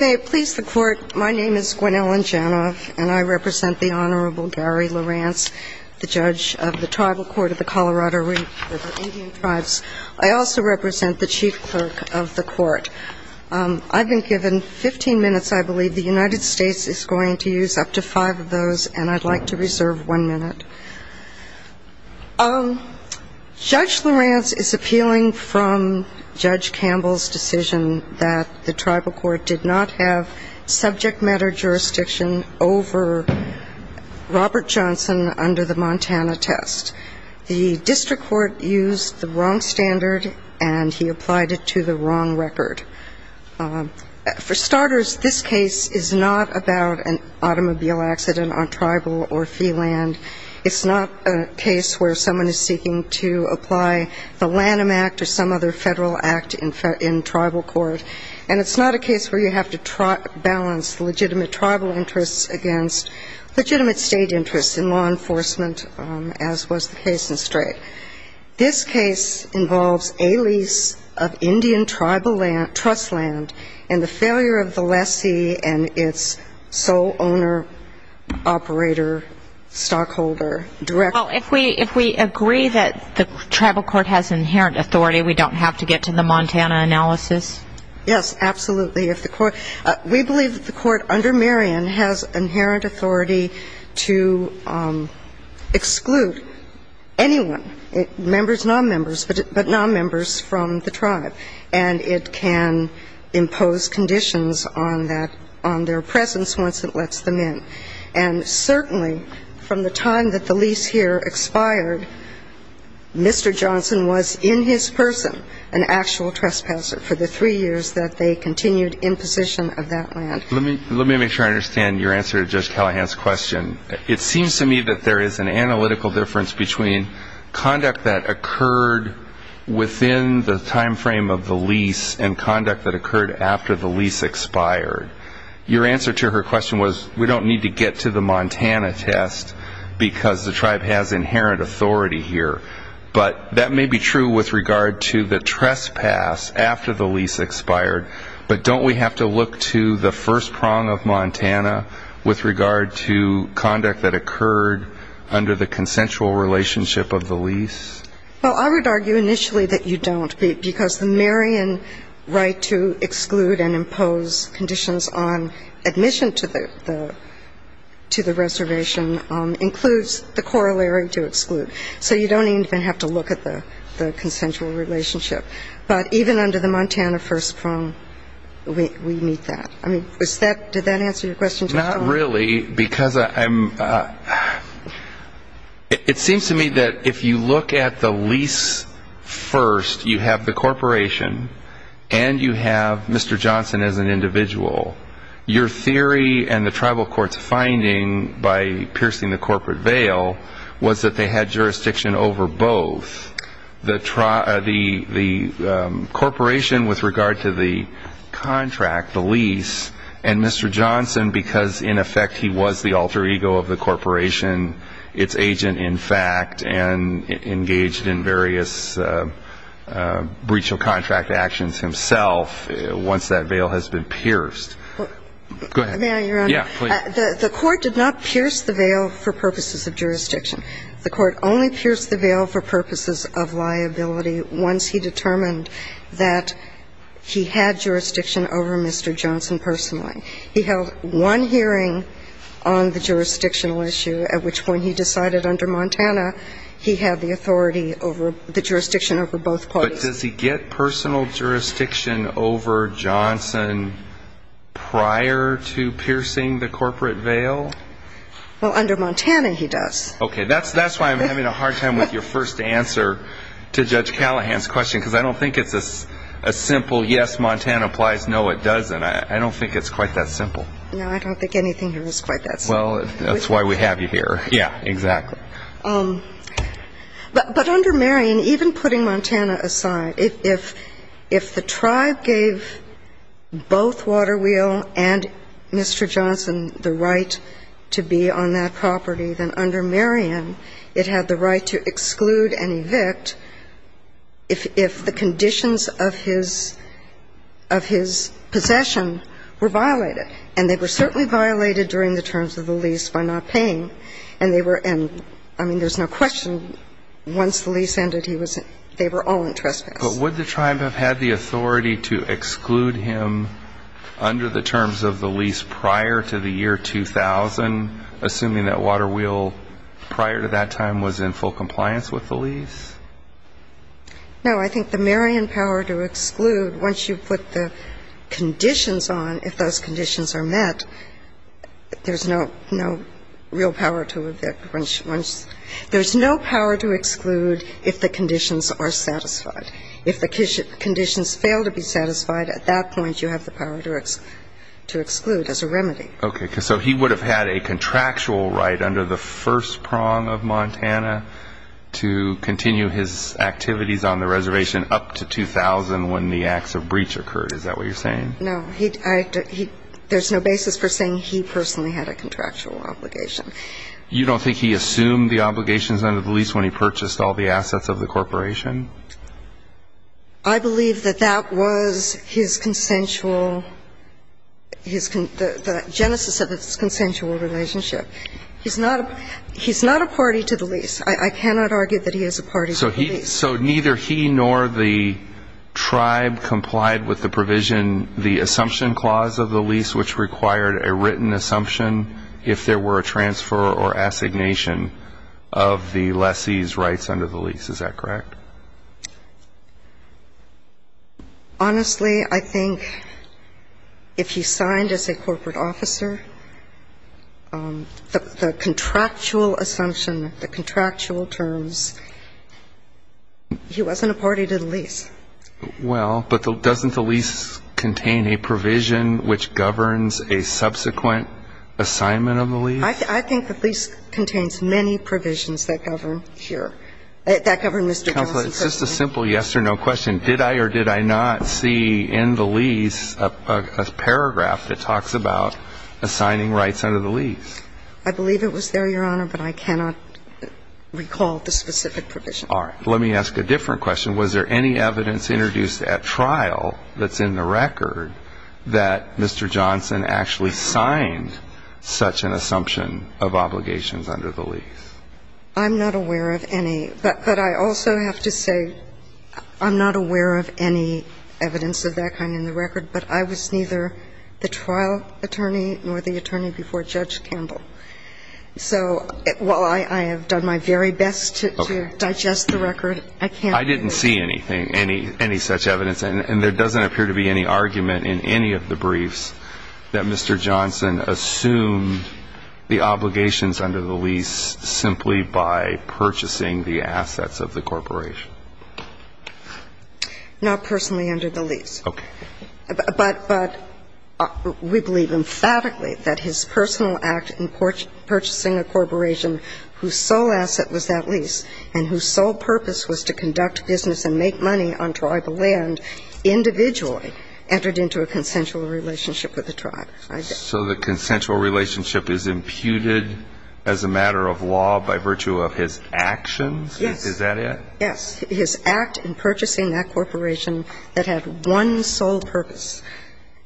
May it please the Court, my name is Gwen Ellen Janoff and I represent the Honorable Gary LaRance, the Judge of the Tribal Court of the Colorado Indian Tribes. I also represent the Chief Clerk of the Court. I've been given 15 minutes. I believe the United States is going to use up to five of those and I'd like to reserve one minute. Judge LaRance is appealing from Judge Campbell's decision that the Tribal Court did not have subject matter jurisdiction over Robert Johnson under the Montana test. The District Court used the wrong standard and he applied it to the wrong record. For starters, this case is not about an automobile accident on tribal or fee land. It's a case about an automobile accident on tribal or fee land. It's not a case where someone is seeking to apply the Lanham Act or some other federal act in tribal court. And it's not a case where you have to balance legitimate tribal interests against legitimate state interests in law enforcement as was the case in Strait. This case involves a lease of Indian trust land and the failure of the lessee and its sole owner, operator, stockholder. If we agree that the Tribal Court has inherent authority, we don't have to get to the Montana analysis? Yes, absolutely. We believe that the Court under Marion has inherent authority to exclude anyone, members, nonmembers, but nonmembers from the tribe. And it can impose conditions on that, on their presence once it lets them in. Let me make sure I understand your answer to Judge Callahan's question. It seems to me that there is an analytical difference between conduct that occurred within the timeframe of the lease and conduct that occurred after the lease expired. Your answer to her question was we don't need to get to the Montana test because the tribe has inherent authority here. But that may be true with regard to the trespass after the lease expired, but don't we have to look to the first prong of Montana with regard to conduct that occurred under the consensual relationship of the lease? Well, I would argue initially that you don't, because the Marion right to exclude and impose conditions on admission to the reservation includes the corollary to exclude. So you don't even have to look at the consensual relationship. But even under the Montana first prong, we meet that. I mean, did that answer your question, Judge Callahan? Not really, because I'm, it seems to me that if you look at the lease first, you have the corporation and you have Mr. Johnson as an individual. Your theory and the tribal court's finding by piercing the corporate veil was that they had jurisdiction over both. The corporation with regard to the contract, the lease, and Mr. Johnson because, in effect, he was the alter ego of the corporation, its agent in fact, and engaged in various breach of contract actions himself once that veil has been pierced. May I, Your Honor? Yeah, please. The court did not pierce the veil for purposes of jurisdiction. The court only pierced the veil for purposes of liability once he determined that he had jurisdiction over Mr. Johnson personally. He held one hearing on the jurisdictional issue, at which point he decided under Montana he had the authority over the jurisdiction over both parties. But does he get personal jurisdiction over Johnson prior to piercing the corporate veil? Well, under Montana he does. Okay. That's why I'm having a hard time with your first answer to Judge Callahan's question, because I don't think it's a simple yes, Montana applies, no, it doesn't. I don't think it's quite that simple. No, I don't think anything here is quite that simple. Well, that's why we have you here. Yeah, exactly. But under Marion, even putting Montana aside, if the tribe gave both Waterwheel and Mr. Johnson the right to be on that property, then under Marion it had the right to exclude and evict if the conditions of his possession were violated. And they were certainly violated during the terms of the lease by not paying. And they were – and, I mean, there's no question once the lease ended, he was – they were all in trespass. But would the tribe have had the authority to exclude him under the terms of the lease prior to the year 2000, assuming that Waterwheel prior to that time was in full compliance with the lease? No, I think the Marion power to exclude, once you put the conditions on, if those conditions are met, there's no real power to evict once – there's no power to exclude if the conditions are satisfied. If the conditions fail to be satisfied, at that point you have the power to exclude as a remedy. Okay. So he would have had a contractual right under the first prong of Montana to continue his activities on the reservation up to 2000 when the acts of breach occurred. Is that what you're saying? No. He – there's no basis for saying he personally had a contractual obligation. You don't think he assumed the obligations under the lease when he purchased all the assets of the corporation? I believe that that was his consensual – his – the genesis of his consensual relationship. He's not a – he's not a party to the lease. I cannot argue that he is a party to the lease. So he – so neither he nor the tribe complied with the provision, the assumption clause of the lease, which required a written assumption if there were a transfer or assignation of the lessee's rights under the lease. Is that correct? Honestly, I think if he signed as a corporate officer, the contractual assumption, the contractual terms, he wasn't a party to the lease. Well, but doesn't the lease contain a provision which governs a subsequent assignment of the lease? I think the lease contains many provisions that govern here – that govern Mr. Johnson's assignment. Counsel, it's just a simple yes or no question. Did I or did I not see in the lease a paragraph that talks about assigning rights under the lease? I believe it was there, Your Honor, but I cannot recall the specific provision. All right. Let me ask a different question. Was there any evidence introduced at trial that's in the record that Mr. Johnson actually signed such an assumption of obligations under the lease? I'm not aware of any. But I also have to say I'm not aware of any evidence of that kind in the record, but I was neither the trial attorney nor the attorney before Judge Campbell. So while I have done my very best to digest the record, I can't. I didn't see anything, any such evidence. And there doesn't appear to be any argument in any of the briefs that Mr. Johnson assumed the obligations under the lease simply by purchasing the assets of the corporation. Not personally under the lease. Okay. But we believe emphatically that his personal act in purchasing a corporation whose sole asset was that lease and whose sole purpose was to conduct business and make money on tribal land individually entered into a consensual relationship with the tribe. So the consensual relationship is imputed as a matter of law by virtue of his actions? Yes. Is that it? Yes. His act in purchasing that corporation that had one sole purpose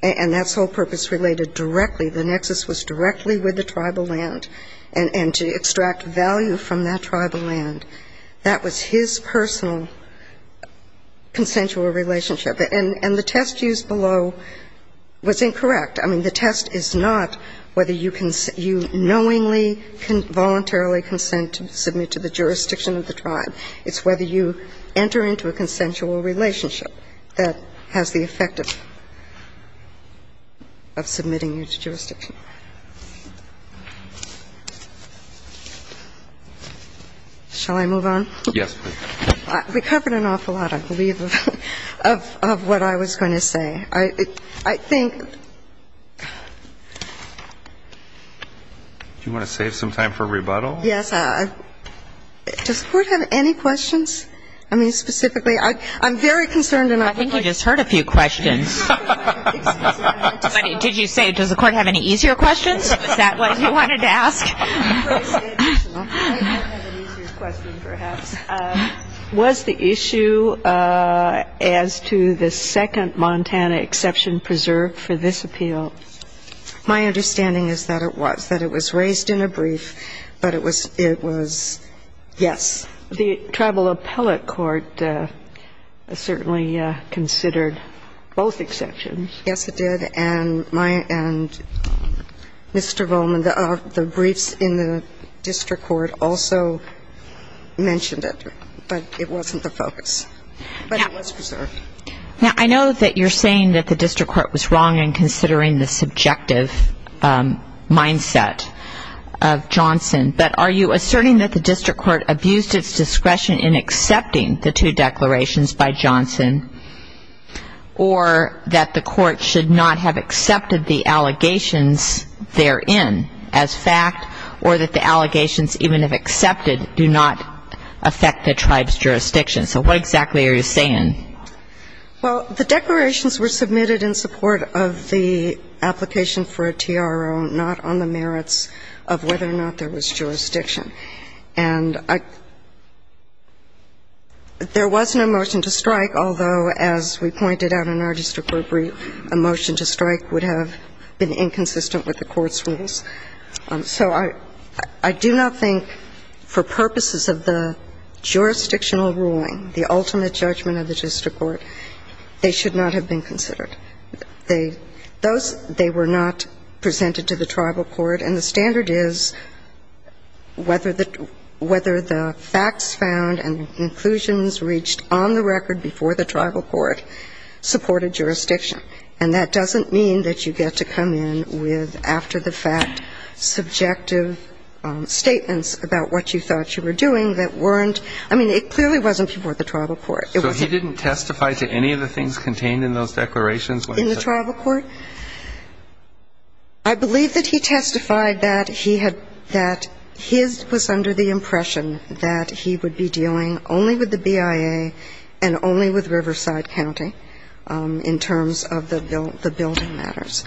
and that sole purpose related directly, the nexus was directly with the tribal land and to extract value from that tribal land, that was his personal consensual relationship. And the test used below was incorrect. I mean, the test is not whether you knowingly voluntarily consent to submit to the jurisdiction of the tribe. It's whether you enter into a consensual relationship that has the effect of submitting you to jurisdiction. Shall I move on? Yes, please. We covered an awful lot, I believe, of what I was going to say. I think... Do you want to save some time for rebuttal? Yes. Does the Court have any questions? I mean, specifically, I'm very concerned and I think... I think you just heard a few questions. Did you say, does the Court have any easier questions? Was that what you wanted to ask? Was the issue as to the second Montana exception preserved for this appeal? My understanding is that it was, that it was raised in a brief, but it was yes. The Tribal Appellate Court certainly considered both exceptions. Yes, it did. And my, and Mr. Volman, the briefs in the district court also mentioned it, but it wasn't the focus. But it was preserved. Now, I know that you're saying that the district court was wrong in considering the subjective mindset of Johnson, but are you asserting that the district court abused its discretion in accepting the two declarations by Johnson, or that the allegations, even if accepted, do not affect the tribe's jurisdiction? So what exactly are you saying? Well, the declarations were submitted in support of the application for a TRO, not on the merits of whether or not there was jurisdiction. And there was no motion to strike, although, as we pointed out in our district court brief, a motion to strike would have been inconsistent with the court's rules. So I do not think for purposes of the jurisdictional ruling, the ultimate judgment of the district court, they should not have been considered. They, those, they were not presented to the tribal court. And the standard is whether the facts found and conclusions reached on the record before the tribal court supported jurisdiction. And that doesn't mean that you get to come in with, after the fact, subjective statements about what you thought you were doing that weren't, I mean, it clearly wasn't before the tribal court. So he didn't testify to any of the things contained in those declarations when he said that? In the tribal court? I believe that he testified that he had, that his was under the impression that he would be dealing only with the BIA and only with Riverside County in terms of the building matters.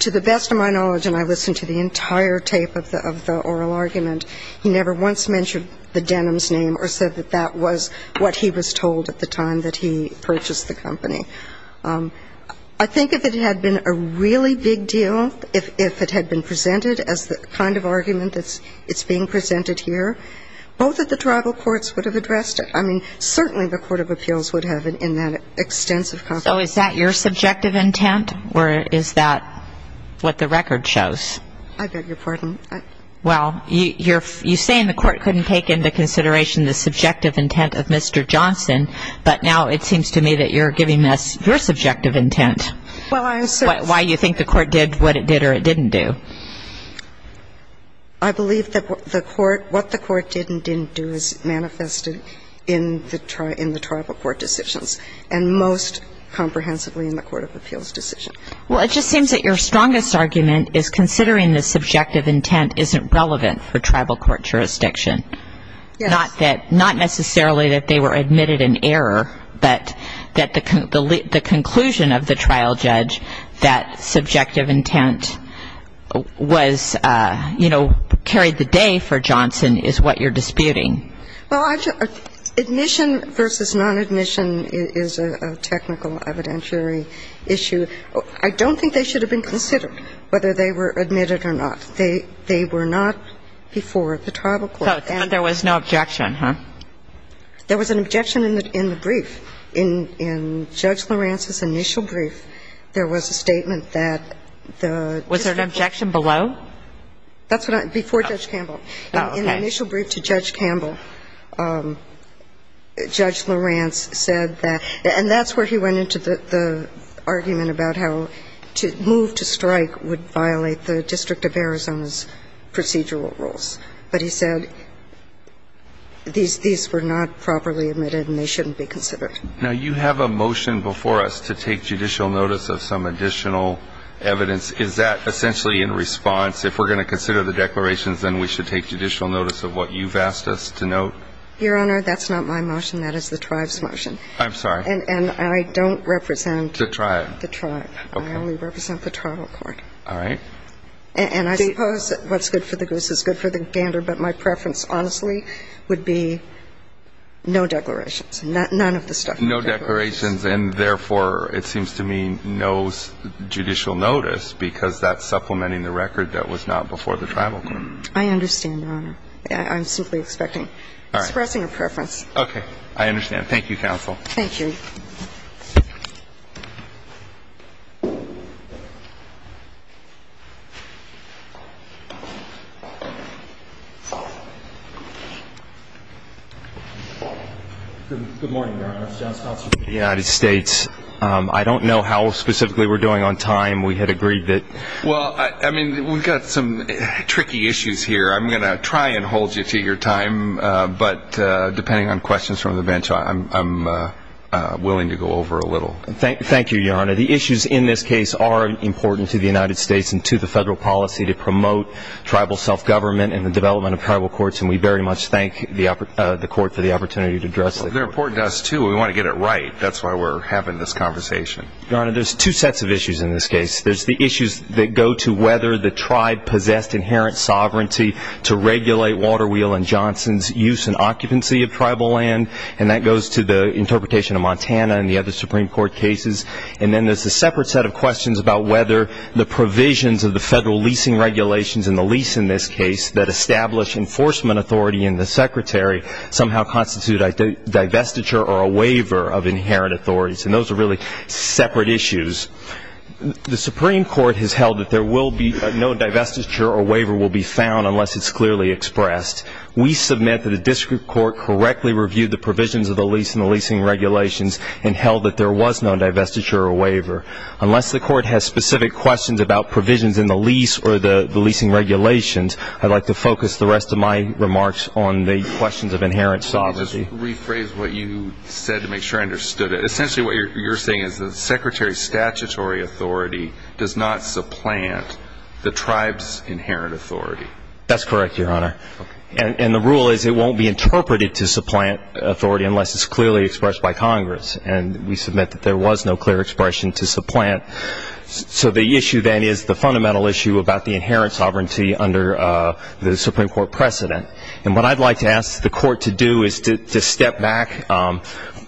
To the best of my knowledge, and I listened to the entire tape of the oral argument, he never once mentioned the Denham's name or said that that was what he was told at the time that he purchased the company. I think if it had been a really big deal, if it had been presented as the kind of argument that's being presented here, both of the tribal courts would have addressed it. I mean, certainly the court of appeals would have in that extensive conversation. So is that your subjective intent or is that what the record shows? I beg your pardon? Well, you're saying the court couldn't take into consideration the subjective intent of Mr. Johnson, but now it seems to me that you're giving us your subjective intent, why you think the court did what it did or it didn't do. I believe that what the court did and didn't do is manifested in the tribal court decisions and most comprehensively in the court of appeals decisions. Well, it just seems that your strongest argument is considering the subjective intent isn't relevant for tribal court jurisdiction. Yes. Not necessarily that they were admitted in error, but that the conclusion of the trial judge that subjective intent was, you know, carried the day for Johnson is what you're disputing. Well, admission versus non-admission is a technical evidentiary issue. I don't think they should have been considered, whether they were admitted or not. They were not before the tribal court. But there was no objection, huh? There was an objection in the brief. In Judge LaRance's initial brief, there was a statement that the district. Was there an objection below? That's what I – before Judge Campbell. Oh, okay. In the initial brief to Judge Campbell, Judge LaRance said that – and that's where he went into the argument about how to move to strike would violate the District of Arizona's procedural rules. But he said these were not properly admitted and they shouldn't be considered. Now, you have a motion before us to take judicial notice of some additional evidence. Is that essentially in response, if we're going to consider the declarations, then we should take judicial notice of what you've asked us to note? Your Honor, that's not my motion. That is the tribe's motion. I'm sorry. And I don't represent the tribe. The tribe. I only represent the tribal court. All right. And I suppose what's good for the goose is good for the gander, but my preference, honestly, would be no declarations. None of the stuff. No declarations, and therefore, it seems to me no judicial notice because that's supplementing the record that was not before the tribal court. I understand, Your Honor. I'm simply expecting – expressing a preference. I understand. Thank you, counsel. Thank you. Thank you. Good morning, Your Honor. It's John Schultz from the United States. I don't know how specifically we're doing on time. We had agreed that. Well, I mean, we've got some tricky issues here. I'm going to try and hold you to your time, but depending on questions from the bench, I'm willing to go over a little. Thank you, Your Honor. The issues in this case are important to the United States and to the federal policy to promote tribal self-government and the development of tribal courts, and we very much thank the court for the opportunity to address it. They're important to us, too. We want to get it right. That's why we're having this conversation. Your Honor, there's two sets of issues in this case. There's the issues that go to whether the tribe possessed inherent sovereignty to regulate Walter Wheel and Johnson's use and occupancy of tribal land, and that goes to the interpretation of Montana and the other Supreme Court cases. And then there's a separate set of questions about whether the provisions of the federal leasing regulations and the lease in this case that establish enforcement authority in the Secretary somehow constitute a divestiture or a waiver of inherent authorities, and those are really separate issues. The Supreme Court has held that there will be no divestiture or waiver will be found unless it's clearly expressed. We submit that the district court correctly reviewed the provisions of the lease and the leasing regulations and held that there was no divestiture or waiver. Unless the court has specific questions about provisions in the lease or the leasing regulations, I'd like to focus the rest of my remarks on the questions of inherent sovereignty. Let me just rephrase what you said to make sure I understood it. Essentially what you're saying is the Secretary's statutory authority does not supplant the tribe's inherent authority. That's correct, Your Honor. And the rule is it won't be interpreted to supplant authority unless it's clearly expressed by Congress, and we submit that there was no clear expression to supplant. So the issue then is the fundamental issue about the inherent sovereignty under the Supreme Court precedent. And what I'd like to ask the court to do is to step back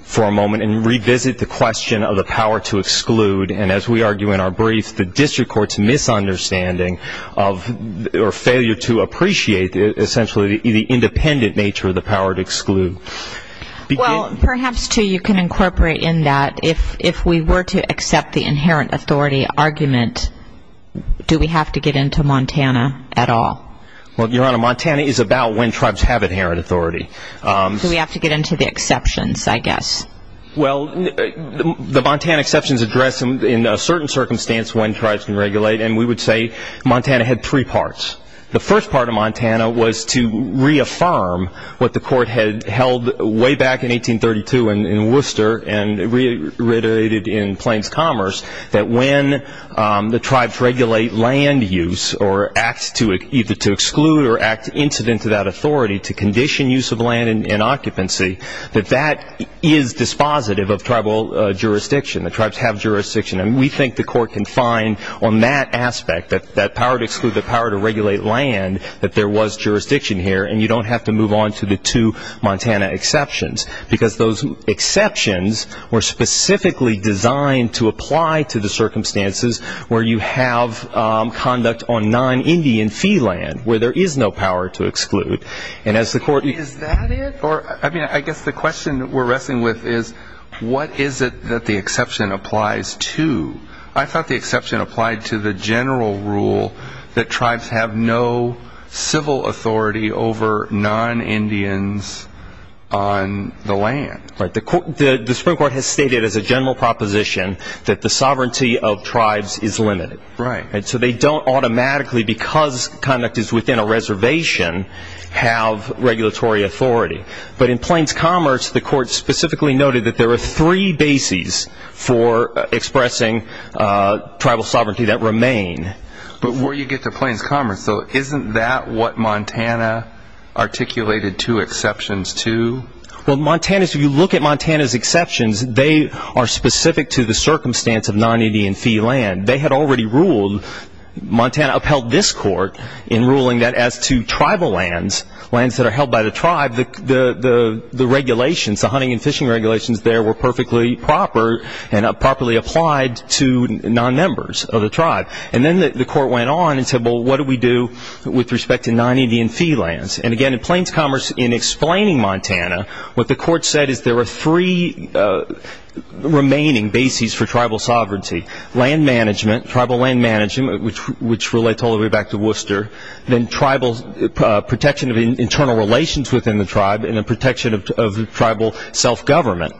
for a moment and revisit the question of the power to exclude. And as we argue in our brief, the district court's misunderstanding of or failure to appreciate essentially the independent nature of the power to exclude. Well, perhaps, too, you can incorporate in that if we were to accept the inherent authority argument, do we have to get into Montana at all? Well, Your Honor, Montana is about when tribes have inherent authority. Do we have to get into the exceptions, I guess? Well, the Montana exceptions address in a certain circumstance when tribes can regulate, and we would say Montana had three parts. The first part of Montana was to reaffirm what the court had held way back in 1832 in Worcester and reiterated in Plains Commerce that when the tribes regulate land use or act either to exclude or act incident to that authority to condition use of land in occupancy, that that is dispositive of tribal jurisdiction. The tribes have jurisdiction. And we think the court can find on that aspect, that power to exclude, the power to regulate land, that there was jurisdiction here, and you don't have to move on to the two Montana exceptions. Because those exceptions were specifically designed to apply to the circumstances where you have conduct on non-Indian fee land where there is no power to exclude. Is that it? I guess the question we're wrestling with is what is it that the exception applies to? I thought the exception applied to the general rule that tribes have no civil authority over non-Indians on the land. Right. The Supreme Court has stated as a general proposition that the sovereignty of tribes is limited. Right. So they don't automatically, because conduct is within a reservation, have regulatory authority. But in Plains Commerce, the court specifically noted that there are three bases for expressing tribal sovereignty that remain. But where you get to Plains Commerce, isn't that what Montana articulated two exceptions to? Well, if you look at Montana's exceptions, they are specific to the circumstance of non-Indian fee land. They had already ruled, Montana upheld this court in ruling that as to tribal lands, lands that are held by the tribe, the regulations, the hunting and fishing regulations there, were perfectly proper and properly applied to non-members of the tribe. And then the court went on and said, well, what do we do with respect to non-Indian fee lands? And again, in Plains Commerce, in explaining Montana, what the court said is there were three remaining bases for tribal sovereignty. Land management, tribal land management, which relates all the way back to Worcester, then protection of internal relations within the tribe, and then protection of tribal self-government.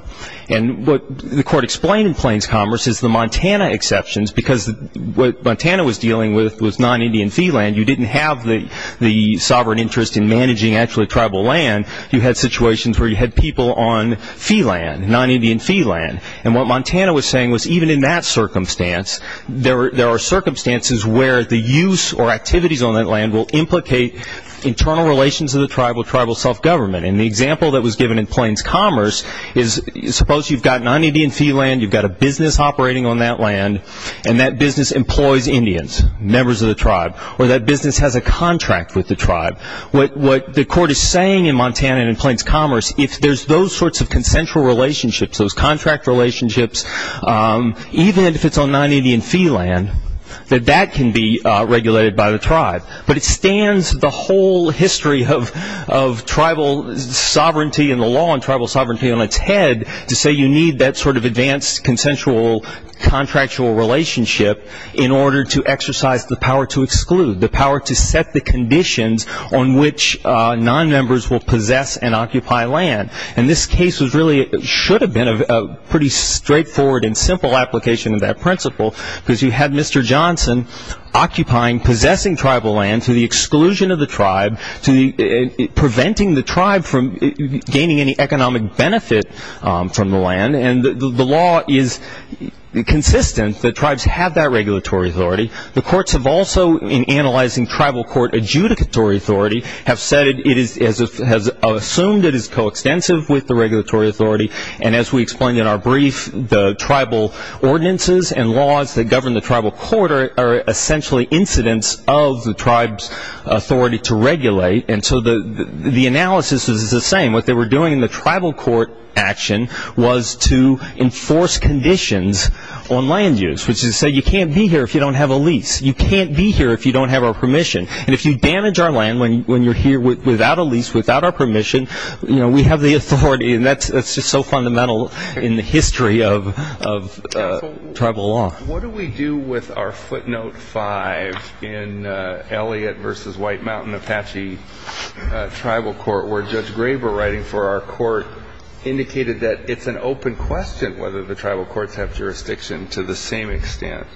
And what the court explained in Plains Commerce is the Montana exceptions, because what Montana was dealing with was non-Indian fee land. You didn't have the sovereign interest in managing actually tribal land. You had situations where you had people on fee land, non-Indian fee land. And what Montana was saying was even in that circumstance, there are circumstances where the use or activities on that land will implicate internal relations of the tribe with tribal self-government. And the example that was given in Plains Commerce is suppose you've got non-Indian fee land, you've got a business operating on that land, and that business employs Indians, members of the tribe, or that business has a contract with the tribe. What the court is saying in Montana and in Plains Commerce, if there's those sorts of consensual relationships, those contract relationships, even if it's on non-Indian fee land, that that can be regulated by the tribe. But it stands the whole history of tribal sovereignty and the law and tribal sovereignty on its head to say you need that sort of advanced consensual contractual relationship in order to exercise the power to exclude, the power to set the conditions on which non-members will possess and occupy land. And this case should have been a pretty straightforward and simple application of that principle because you had Mr. Johnson occupying, possessing tribal land through the exclusion of the tribe, preventing the tribe from gaining any economic benefit from the land. And the law is consistent that tribes have that regulatory authority. The courts have also, in analyzing tribal court adjudicatory authority, have said it is, has assumed it is coextensive with the regulatory authority. And as we explained in our brief, the tribal ordinances and laws that govern the tribal court are essentially incidents of the tribe's authority to regulate. And so the analysis is the same. What they were doing in the tribal court action was to enforce conditions on land use, which is to say you can't be here if you don't have a lease. You can't be here if you don't have our permission. And if you damage our land when you're here without a lease, without our permission, we have the authority. And that's just so fundamental in the history of tribal law. What do we do with our footnote five in Elliott v. White Mountain Apache Tribal Court where Judge Graber writing for our court indicated that it's an open question whether the tribal courts have jurisdiction to the same extent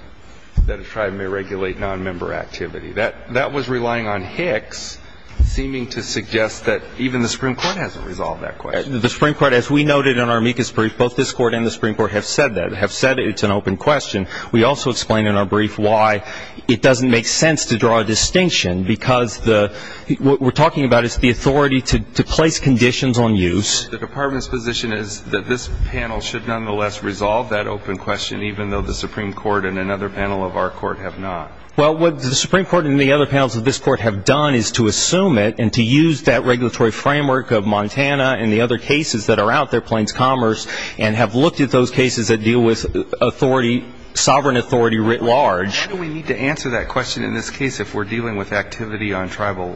that a tribe may regulate nonmember activity. That was relying on Hicks seeming to suggest that even the Supreme Court hasn't resolved that question. The Supreme Court, as we noted in our amicus brief, both this court and the Supreme Court have said that. It's an open question. We also explain in our brief why it doesn't make sense to draw a distinction because what we're talking about is the authority to place conditions on use. The department's position is that this panel should nonetheless resolve that open question, even though the Supreme Court and another panel of our court have not. Well, what the Supreme Court and the other panels of this court have done is to assume it and to use that regulatory framework of Montana and the other cases that are out there, Plains Commerce, and have looked at those cases that deal with authority, sovereign authority writ large. Why do we need to answer that question in this case if we're dealing with activity on tribal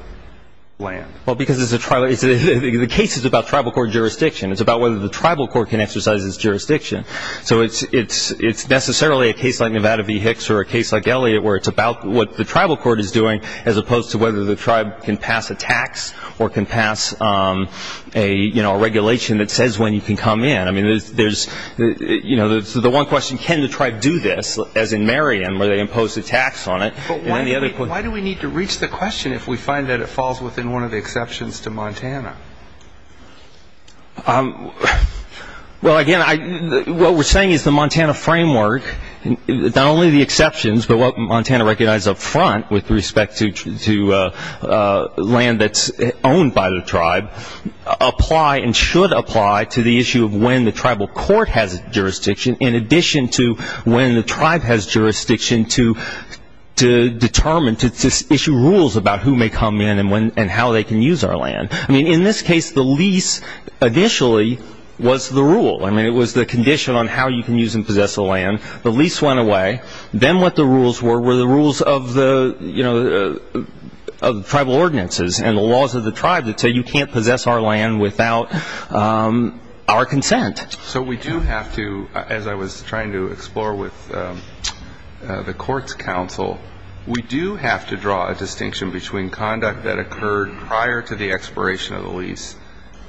land? Well, because the case is about tribal court jurisdiction. It's about whether the tribal court can exercise its jurisdiction. So it's necessarily a case like Nevada v. Hicks or a case like Elliott where it's about what the tribal court is doing as opposed to whether the tribe can pass a tax or can pass a regulation that says when you can come in. I mean, there's, you know, the one question, can the tribe do this, as in Marion where they impose a tax on it. But why do we need to reach the question if we find that it falls within one of the exceptions to Montana? Well, again, what we're saying is the Montana framework, not only the exceptions, but what Montana recognizes up front with respect to land that's owned by the tribe, apply and should apply to the issue of when the tribal court has jurisdiction in addition to when the tribe has jurisdiction to determine, to issue rules about who may come in and how they can use our land. I mean, in this case, the lease initially was the rule. I mean, it was the condition on how you can use and possess the land. The lease went away. Then what the rules were were the rules of the, you know, of the tribal ordinances and the laws of the tribe that say you can't possess our land without our consent. So we do have to, as I was trying to explore with the courts counsel, we do have to draw a distinction between conduct that occurred prior to the expiration of the lease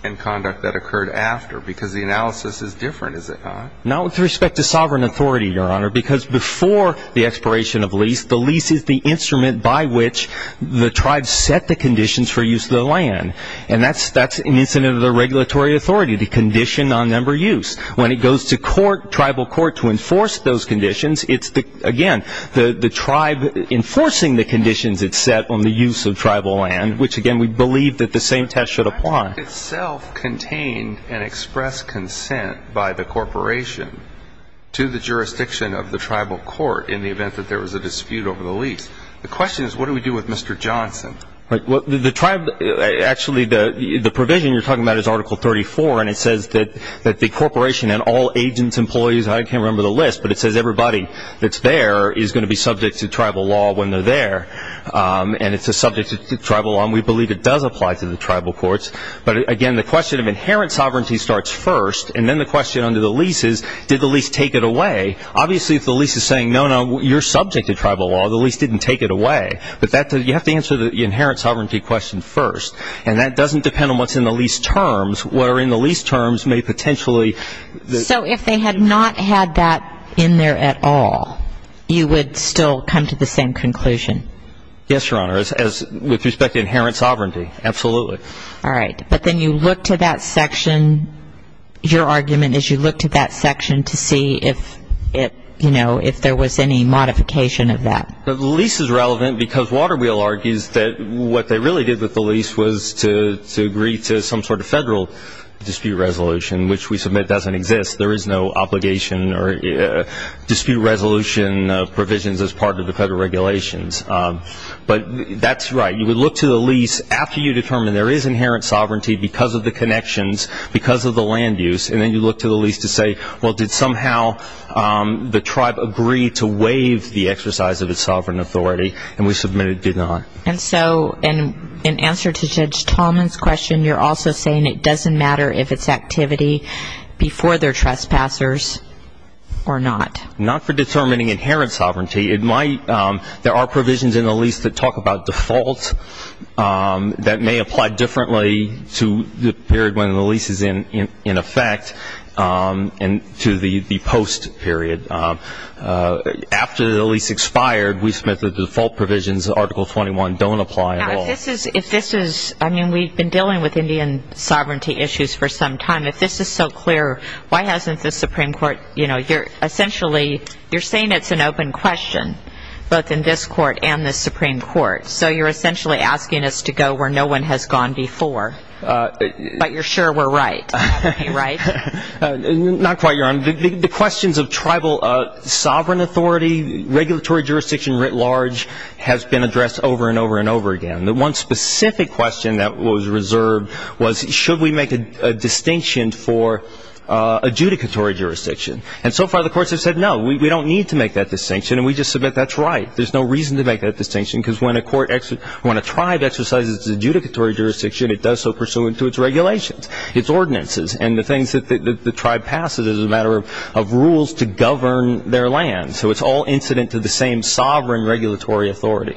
and conduct that occurred after because the analysis is different, is it not? Not with respect to sovereign authority, Your Honor, because before the expiration of lease, the lease is the instrument by which the tribe set the conditions for use of the land. And that's an incident of the regulatory authority, the condition on member use. When it goes to court, tribal court, to enforce those conditions, it's, again, the tribe enforcing the conditions it set on the use of tribal land, which, again, we believe that the same test should apply. The tribe itself contained and expressed consent by the corporation to the jurisdiction of the tribal court in the event that there was a dispute over the lease. The question is what do we do with Mr. Johnson? Well, the tribe, actually, the provision you're talking about is Article 34, and it says that the corporation and all agents, employees, I can't remember the list, but it says everybody that's there is going to be subject to tribal law when they're there, and it's subject to tribal law, and we believe it does apply to the tribal courts. But, again, the question of inherent sovereignty starts first, and then the question under the lease is did the lease take it away? Obviously, if the lease is saying, no, no, you're subject to tribal law, the lease didn't take it away. But you have to answer the inherent sovereignty question first, and that doesn't depend on what's in the lease terms, where in the lease terms may potentially be. So if they had not had that in there at all, you would still come to the same conclusion? Yes, Your Honor, with respect to inherent sovereignty, absolutely. All right. But then you look to that section, your argument is you look to that section to see if it, you know, if there was any modification of that. The lease is relevant because Waterwheel argues that what they really did with the lease was to agree to some sort of federal dispute resolution, which we submit doesn't exist. There is no obligation or dispute resolution provisions as part of the federal regulations. But that's right. You would look to the lease after you determine there is inherent sovereignty because of the connections, because of the land use, and then you look to the lease to say, well, did somehow the tribe agree to waive the exercise of its sovereign authority, and we submit it did not. And so in answer to Judge Tallman's question, you're also saying it doesn't matter if it's activity before their trespassers or not? Not for determining inherent sovereignty. It might. There are provisions in the lease that talk about defaults that may apply differently to the period when the lease is in effect and to the post-period. After the lease expired, we submit that the default provisions, Article 21, don't apply at all. Now, if this is, I mean, we've been dealing with Indian sovereignty issues for some time. If this is so clear, why hasn't the Supreme Court, you know, both in this court and the Supreme Court? So you're essentially asking us to go where no one has gone before. But you're sure we're right, right? Not quite, Your Honor. The questions of tribal sovereign authority, regulatory jurisdiction writ large, has been addressed over and over and over again. The one specific question that was reserved was should we make a distinction for adjudicatory jurisdiction? And so far the courts have said no, we don't need to make that distinction, and we just submit that's right. There's no reason to make that distinction because when a tribe exercises its adjudicatory jurisdiction, it does so pursuant to its regulations, its ordinances, and the things that the tribe passes as a matter of rules to govern their land. So it's all incident to the same sovereign regulatory authority.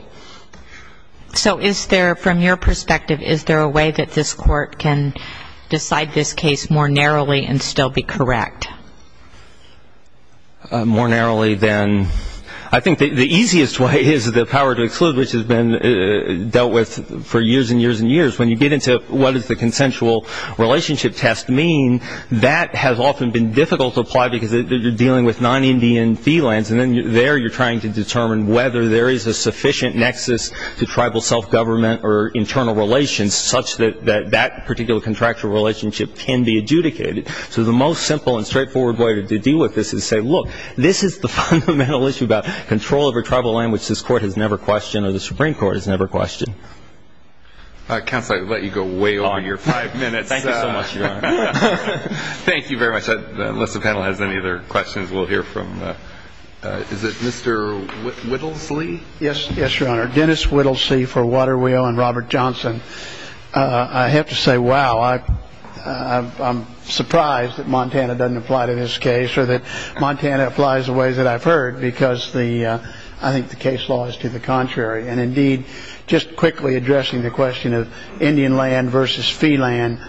So is there, from your perspective, is there a way that this court can decide this case more narrowly and still be correct? More narrowly than, I think the easiest way is the power to exclude, which has been dealt with for years and years and years. When you get into what does the consensual relationship test mean, that has often been difficult to apply because you're dealing with non-Indian fee lands, and then there you're trying to determine whether there is a sufficient nexus to tribal self-government or internal relations such that that particular contractual relationship can be adjudicated. So the most simple and straightforward way to deal with this is to say, look, this is the fundamental issue about control over tribal land, which this court has never questioned or the Supreme Court has never questioned. Counsel, I let you go way over your five minutes. Thank you so much, Your Honor. Thank you very much. Unless the panel has any other questions, we'll hear from, is it Mr. Whittlesley? Yes, Your Honor. Dennis Whittlesey for Waterwheel and Robert Johnson. I have to say, wow, I'm surprised that Montana doesn't apply to this case or that Montana applies the ways that I've heard because I think the case law is to the contrary. And indeed, just quickly addressing the question of Indian land versus fee land,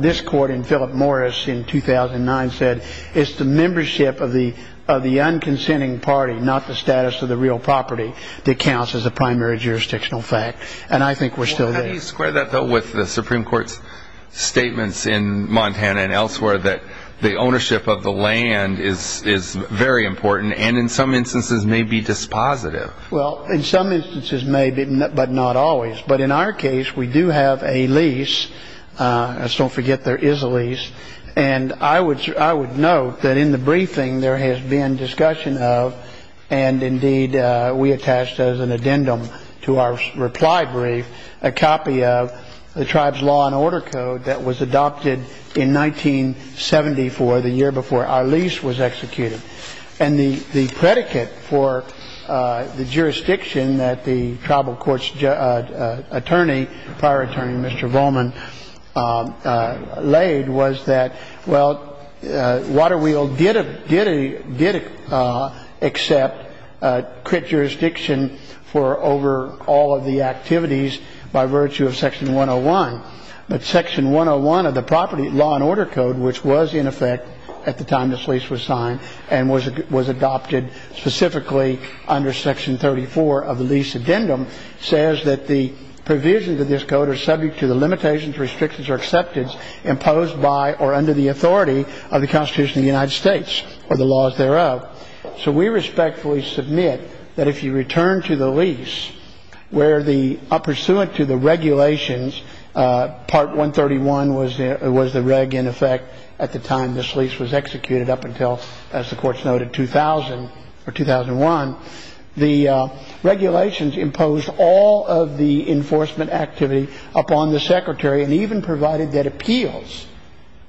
this court in Philip Morris in 2009 said it's the membership of the unconsenting party, not the status of the real property, that counts as a primary jurisdictional fact. And I think we're still there. How do you square that, though, with the Supreme Court's statements in Montana and elsewhere that the ownership of the land is very important and in some instances may be dispositive? Well, in some instances may be, but not always. But in our case, we do have a lease. Let's don't forget there is a lease. And I would note that in the briefing there has been discussion of, and indeed we attached as an addendum to our reply brief a copy of the tribe's law and order code that was adopted in 1974, the year before our lease was executed. And the predicate for the jurisdiction that the tribal court's attorney, prior attorney, Mr. Volman, laid was that, well, Waterwheel did accept crit jurisdiction for over all of the activities by virtue of section 101. But section 101 of the property law and order code, which was in effect at the time this lease was signed and was adopted specifically under section 34 of the lease addendum, says that the provisions of this code are subject to the limitations, restrictions, or acceptance imposed by or under the authority of the Constitution of the United States or the laws thereof. So we respectfully submit that if you return to the lease where the pursuant to the regulations, part 131 was the reg in effect at the time this lease was executed up until, as the courts noted, 2000 or 2001, the regulations imposed all of the enforcement activity upon the secretary and even provided that appeals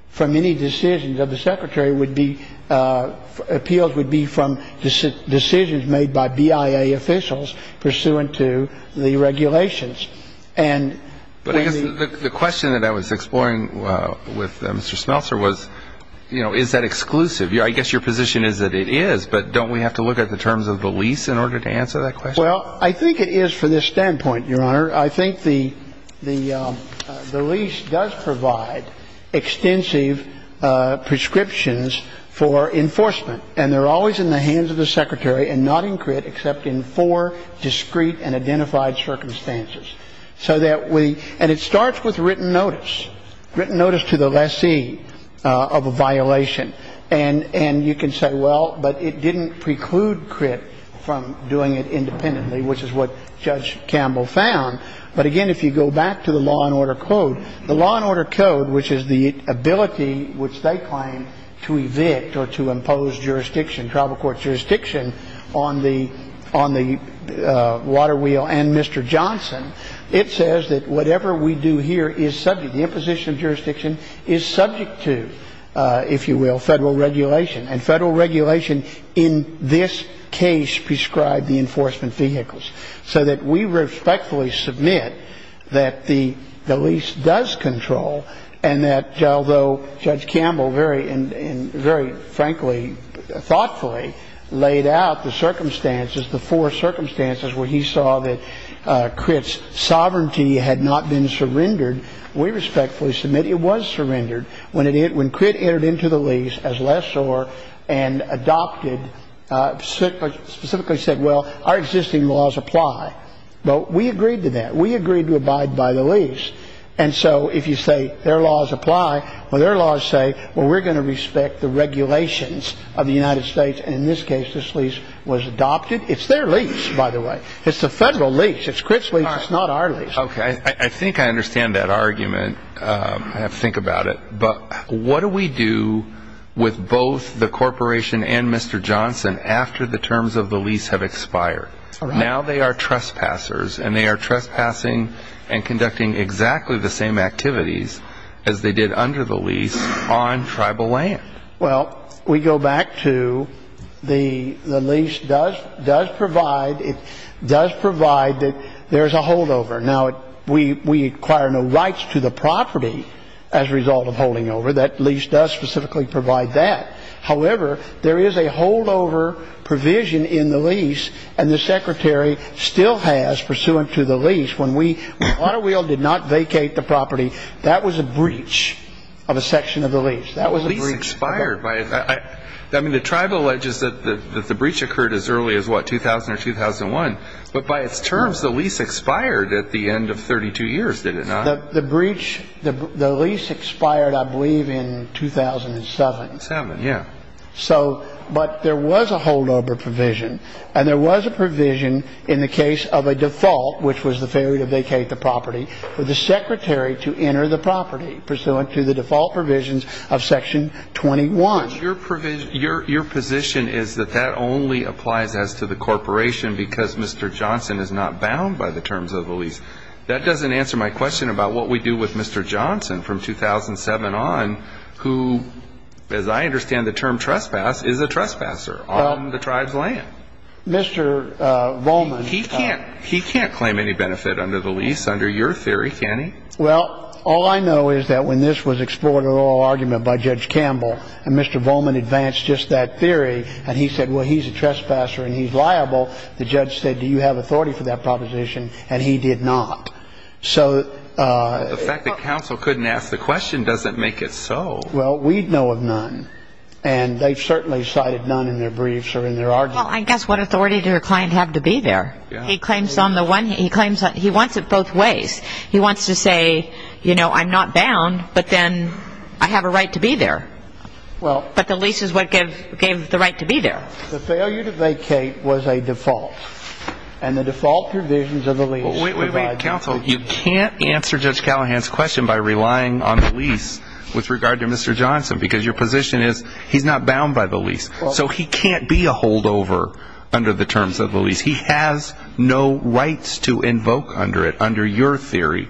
from any decisions of the secretary would be ‑‑ appeals would be from decisions made by BIA officials pursuant to the regulations. And when the ‑‑ But I guess the question that I was exploring with Mr. Smeltzer was, you know, is that exclusive? I guess your position is that it is, but don't we have to look at the terms of the lease in order to answer that question? Well, I think it is from this standpoint, Your Honor. I think the lease does provide extensive prescriptions for enforcement, and they're always in the hands of the secretary and not in CRIT except in four discrete and identified circumstances. So that we ‑‑ and it starts with written notice, written notice to the lessee of a violation. And you can say, well, but it didn't preclude CRIT from doing it independently, which is what Judge Campbell found. But, again, if you go back to the law and order code, the law and order code, which is the ability which they claim to evict or to impose jurisdiction, tribal court jurisdiction on the water wheel and Mr. Johnson, it says that whatever we do here is subject, the imposition of jurisdiction is subject to, if you will, federal regulation. And federal regulation in this case prescribed the enforcement vehicles. So that we respectfully submit that the lease does control and that although Judge Campbell very, and very frankly thoughtfully laid out the circumstances, the four circumstances where he saw that CRIT's sovereignty had not been surrendered, we respectfully submit it was surrendered when CRIT entered into the lease as lessor and adopted, specifically said, well, our existing laws apply. But we agreed to that. We agreed to abide by the lease. And so if you say their laws apply, well, their laws say, well, we're going to respect the regulations of the United States. And in this case, this lease was adopted. It's their lease, by the way. It's the federal lease. It's CRIT's lease. It's not our lease. Okay. I think I understand that argument. I have to think about it. But what do we do with both the corporation and Mr. Johnson after the terms of the lease have expired? Now they are trespassers and they are trespassing and conducting exactly the same activities as they did under the lease on tribal land. Well, we go back to the lease does provide that there is a holdover. Now, we require no rights to the property as a result of holding over. That lease does specifically provide that. However, there is a holdover provision in the lease, and the Secretary still has pursuant to the lease when Waterwheel did not vacate the property, that was a breach of a section of the lease. That was a breach. The lease expired. I mean, the tribe alleges that the breach occurred as early as, what, 2000 or 2001. But by its terms, the lease expired at the end of 32 years, did it not? The lease expired, I believe, in 2007. Seven, yeah. But there was a holdover provision, and there was a provision in the case of a default, which was the failure to vacate the property, for the Secretary to enter the property pursuant to the default provisions of Section 21. Your position is that that only applies as to the corporation because Mr. Johnson is not bound by the terms of the lease. That doesn't answer my question about what we do with Mr. Johnson from 2007 on, who, as I understand the term trespass, is a trespasser on the tribe's land. Mr. Rollman. He can't claim any benefit under the lease under your theory, can he? Well, all I know is that when this was explored in an oral argument by Judge Campbell and Mr. Rollman advanced just that theory and he said, well, he's a trespasser and he's liable, the judge said, do you have authority for that proposition, and he did not. So the fact that counsel couldn't ask the question doesn't make it so. Well, we know of none, and they've certainly cited none in their briefs or in their argument. Well, I guess what authority does your client have to be there? He claims on the one hand he wants it both ways. He wants to say, you know, I'm not bound, but then I have a right to be there. But the lease is what gave the right to be there. The failure to vacate was a default, and the default provisions of the lease provide that. Wait, wait, wait, counsel. You can't answer Judge Callahan's question by relying on the lease with regard to Mr. Johnson because your position is he's not bound by the lease. So he can't be a holdover under the terms of the lease. He has no rights to invoke under it, under your theory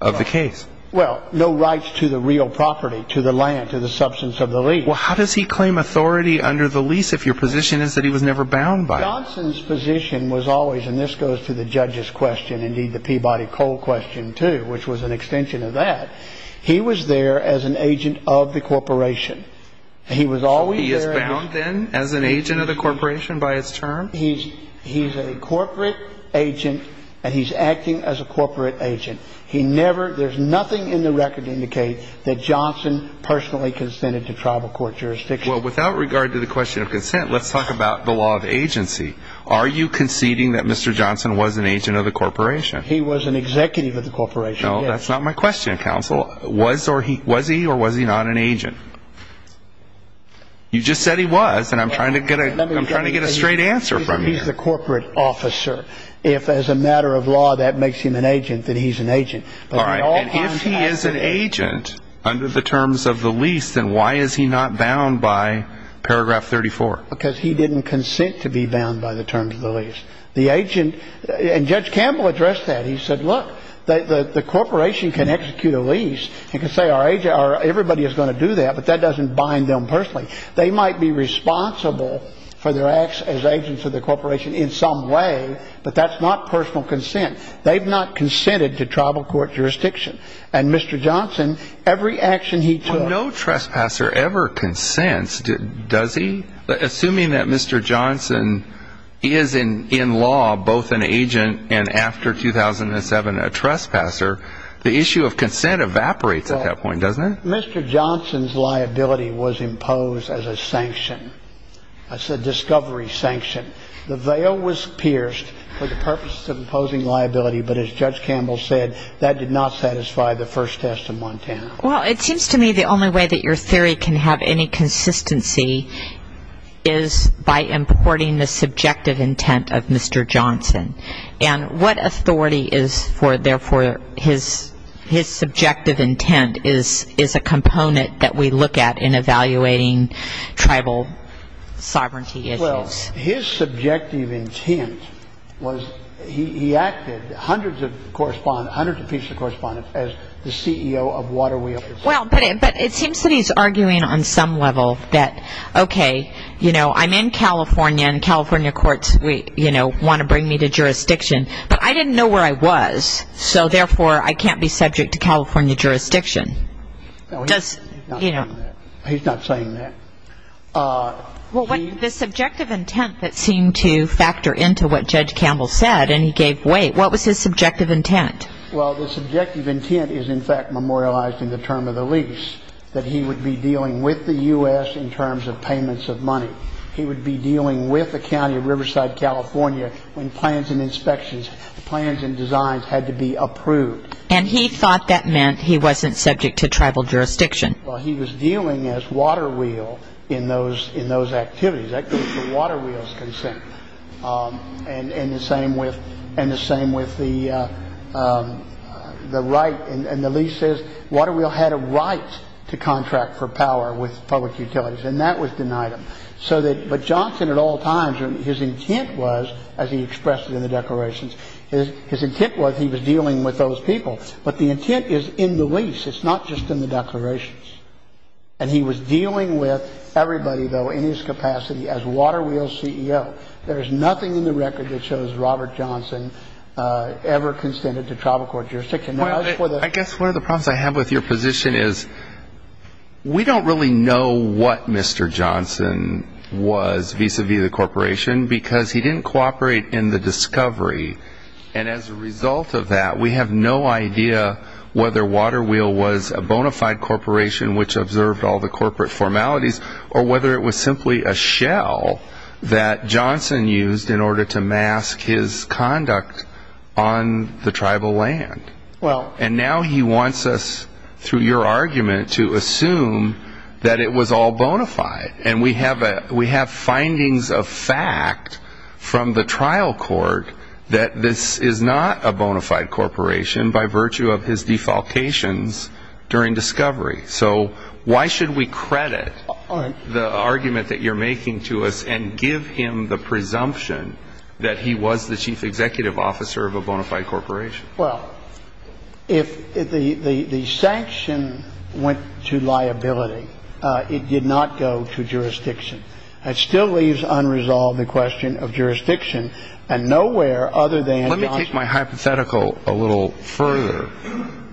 of the case. Well, no rights to the real property, to the land, to the substance of the lease. Well, how does he claim authority under the lease if your position is that he was never bound by it? Johnson's position was always, and this goes to the judge's question, indeed the Peabody-Cole question too, which was an extension of that. He was there as an agent of the corporation. He was always there. He is bound then as an agent of the corporation by his term? He's a corporate agent, and he's acting as a corporate agent. He never, there's nothing in the record to indicate that Johnson personally consented to tribal court jurisdiction. Well, without regard to the question of consent, let's talk about the law of agency. Are you conceding that Mr. Johnson was an agent of the corporation? He was an executive of the corporation. No, that's not my question, counsel. Was he or was he not an agent? You just said he was, and I'm trying to get a straight answer from you. He's the corporate officer. If as a matter of law that makes him an agent, then he's an agent. All right, and if he is an agent under the terms of the lease, then why is he not bound by paragraph 34? Because he didn't consent to be bound by the terms of the lease. And Judge Campbell addressed that. He said, look, the corporation can execute a lease and can say everybody is going to do that, but that doesn't bind them personally. They might be responsible for their acts as agents of the corporation in some way, but that's not personal consent. They've not consented to tribal court jurisdiction. And Mr. Johnson, every action he took ñ both an agent and after 2007 a trespasser, the issue of consent evaporates at that point, doesn't it? Mr. Johnson's liability was imposed as a sanction, as a discovery sanction. The veil was pierced for the purposes of imposing liability, but as Judge Campbell said, that did not satisfy the first test of Montana. Well, it seems to me the only way that your theory can have any consistency is by importing the subjective intent of Mr. Johnson. And what authority is there for his subjective intent is a component that we look at in evaluating tribal sovereignty issues. His subjective intent was he acted, hundreds of pieces of correspondence as the CEO of Waterwheel. Well, but it seems that he's arguing on some level that, okay, you know, I'm in California and California courts want to bring me to jurisdiction, but I didn't know where I was, so therefore I can't be subject to California jurisdiction. He's not saying that. Well, the subjective intent that seemed to factor into what Judge Campbell said, and he gave weight, what was his subjective intent? Well, the subjective intent is in fact memorialized in the term of the lease, that he would be dealing with the U.S. in terms of payments of money. He would be dealing with the county of Riverside, California when plans and inspections, plans and designs had to be approved. And he thought that meant he wasn't subject to tribal jurisdiction. Well, he was dealing as Waterwheel in those activities. That goes to Waterwheel's consent. And the same with the right. And the lease says Waterwheel had a right to contract for power with public utilities, and that was denied him. But Johnson at all times, his intent was, as he expressed it in the declarations, his intent was he was dealing with those people. But the intent is in the lease. It's not just in the declarations. And he was dealing with everybody, though, in his capacity as Waterwheel's CEO. There is nothing in the record that shows Robert Johnson ever consented to tribal court jurisdiction. I guess one of the problems I have with your position is we don't really know what Mr. Johnson was vis-à-vis the corporation because he didn't cooperate in the discovery. And as a result of that, we have no idea whether Waterwheel was a bona fide corporation which observed all the corporate formalities or whether it was simply a shell that Johnson used in order to mask his conduct on the tribal land. And now he wants us, through your argument, to assume that it was all bona fide. And we have findings of fact from the trial court that this is not a bona fide corporation by virtue of his defalcations during discovery. So why should we credit the argument that you're making to us and give him the presumption that he was the chief executive officer of a bona fide corporation? Well, if the sanction went to liability, it did not go to jurisdiction. It still leaves unresolved the question of jurisdiction and nowhere other than Johnson. Let me take my hypothetical a little further.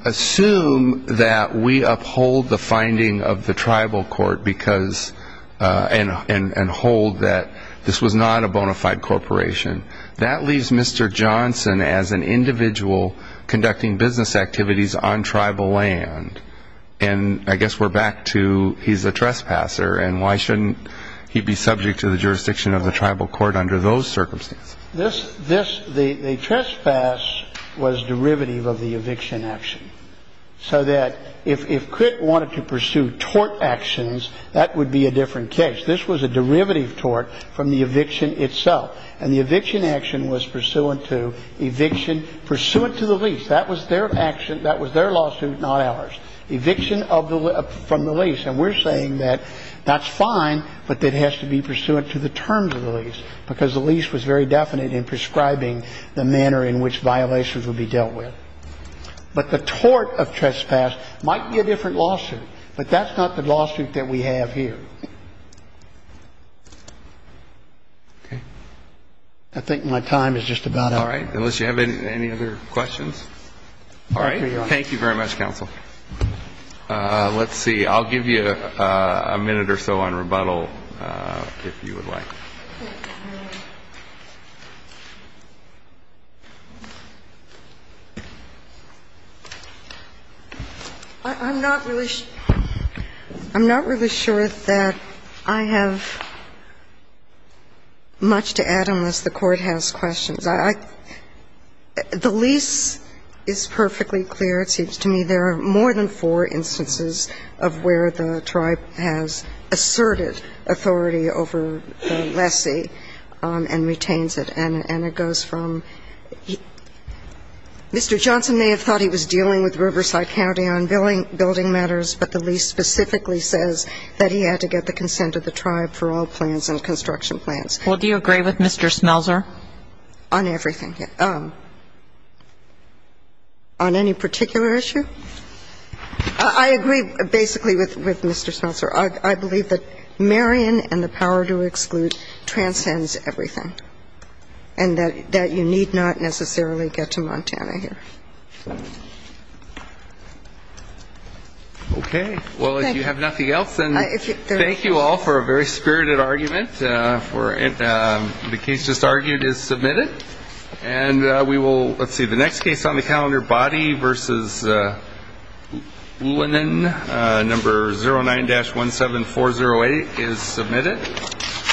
Assume that we uphold the finding of the tribal court and hold that this was not a bona fide corporation. That leaves Mr. Johnson as an individual conducting business activities on tribal land. And I guess we're back to he's a trespasser, and why shouldn't he be subject to the jurisdiction of the tribal court under those circumstances? The trespass was derivative of the eviction action. So that if Critt wanted to pursue tort actions, that would be a different case. This was a derivative tort from the eviction itself, and the eviction action was pursuant to eviction, pursuant to the lease. That was their action. That was their lawsuit, not ours. Eviction from the lease. And we're saying that that's fine, but it has to be pursuant to the terms of the lease because the lease was very definite in prescribing the manner in which violations would be dealt with. But the tort of trespass might be a different lawsuit, but that's not the lawsuit that we have here. I think my time is just about up. All right. Unless you have any other questions? All right. Thank you very much, counsel. Let's see. I'll give you a minute or so on rebuttal if you would like. I'm not really sure that I have much to add unless the Court has questions. The lease is perfectly clear, it seems to me. There are more than four instances of where the tribe has asserted authority over the lessee and retains it, and it goes from Mr. Johnson may have thought he was dealing with Riverside County on building matters, but the lease specifically says that he had to get the consent of the tribe for all plans and construction plans. Well, do you agree with Mr. Smelser? On everything. On any particular issue? I agree basically with Mr. Smelser. I believe that Marion and the power to exclude transcends everything, and that you need not necessarily get to Montana here. Okay. Well, if you have nothing else, then thank you all for a very spirited argument. The case just argued is submitted. Let's see. The next case on the calendar, Boddy v. Lennon, number 09-17408, is submitted.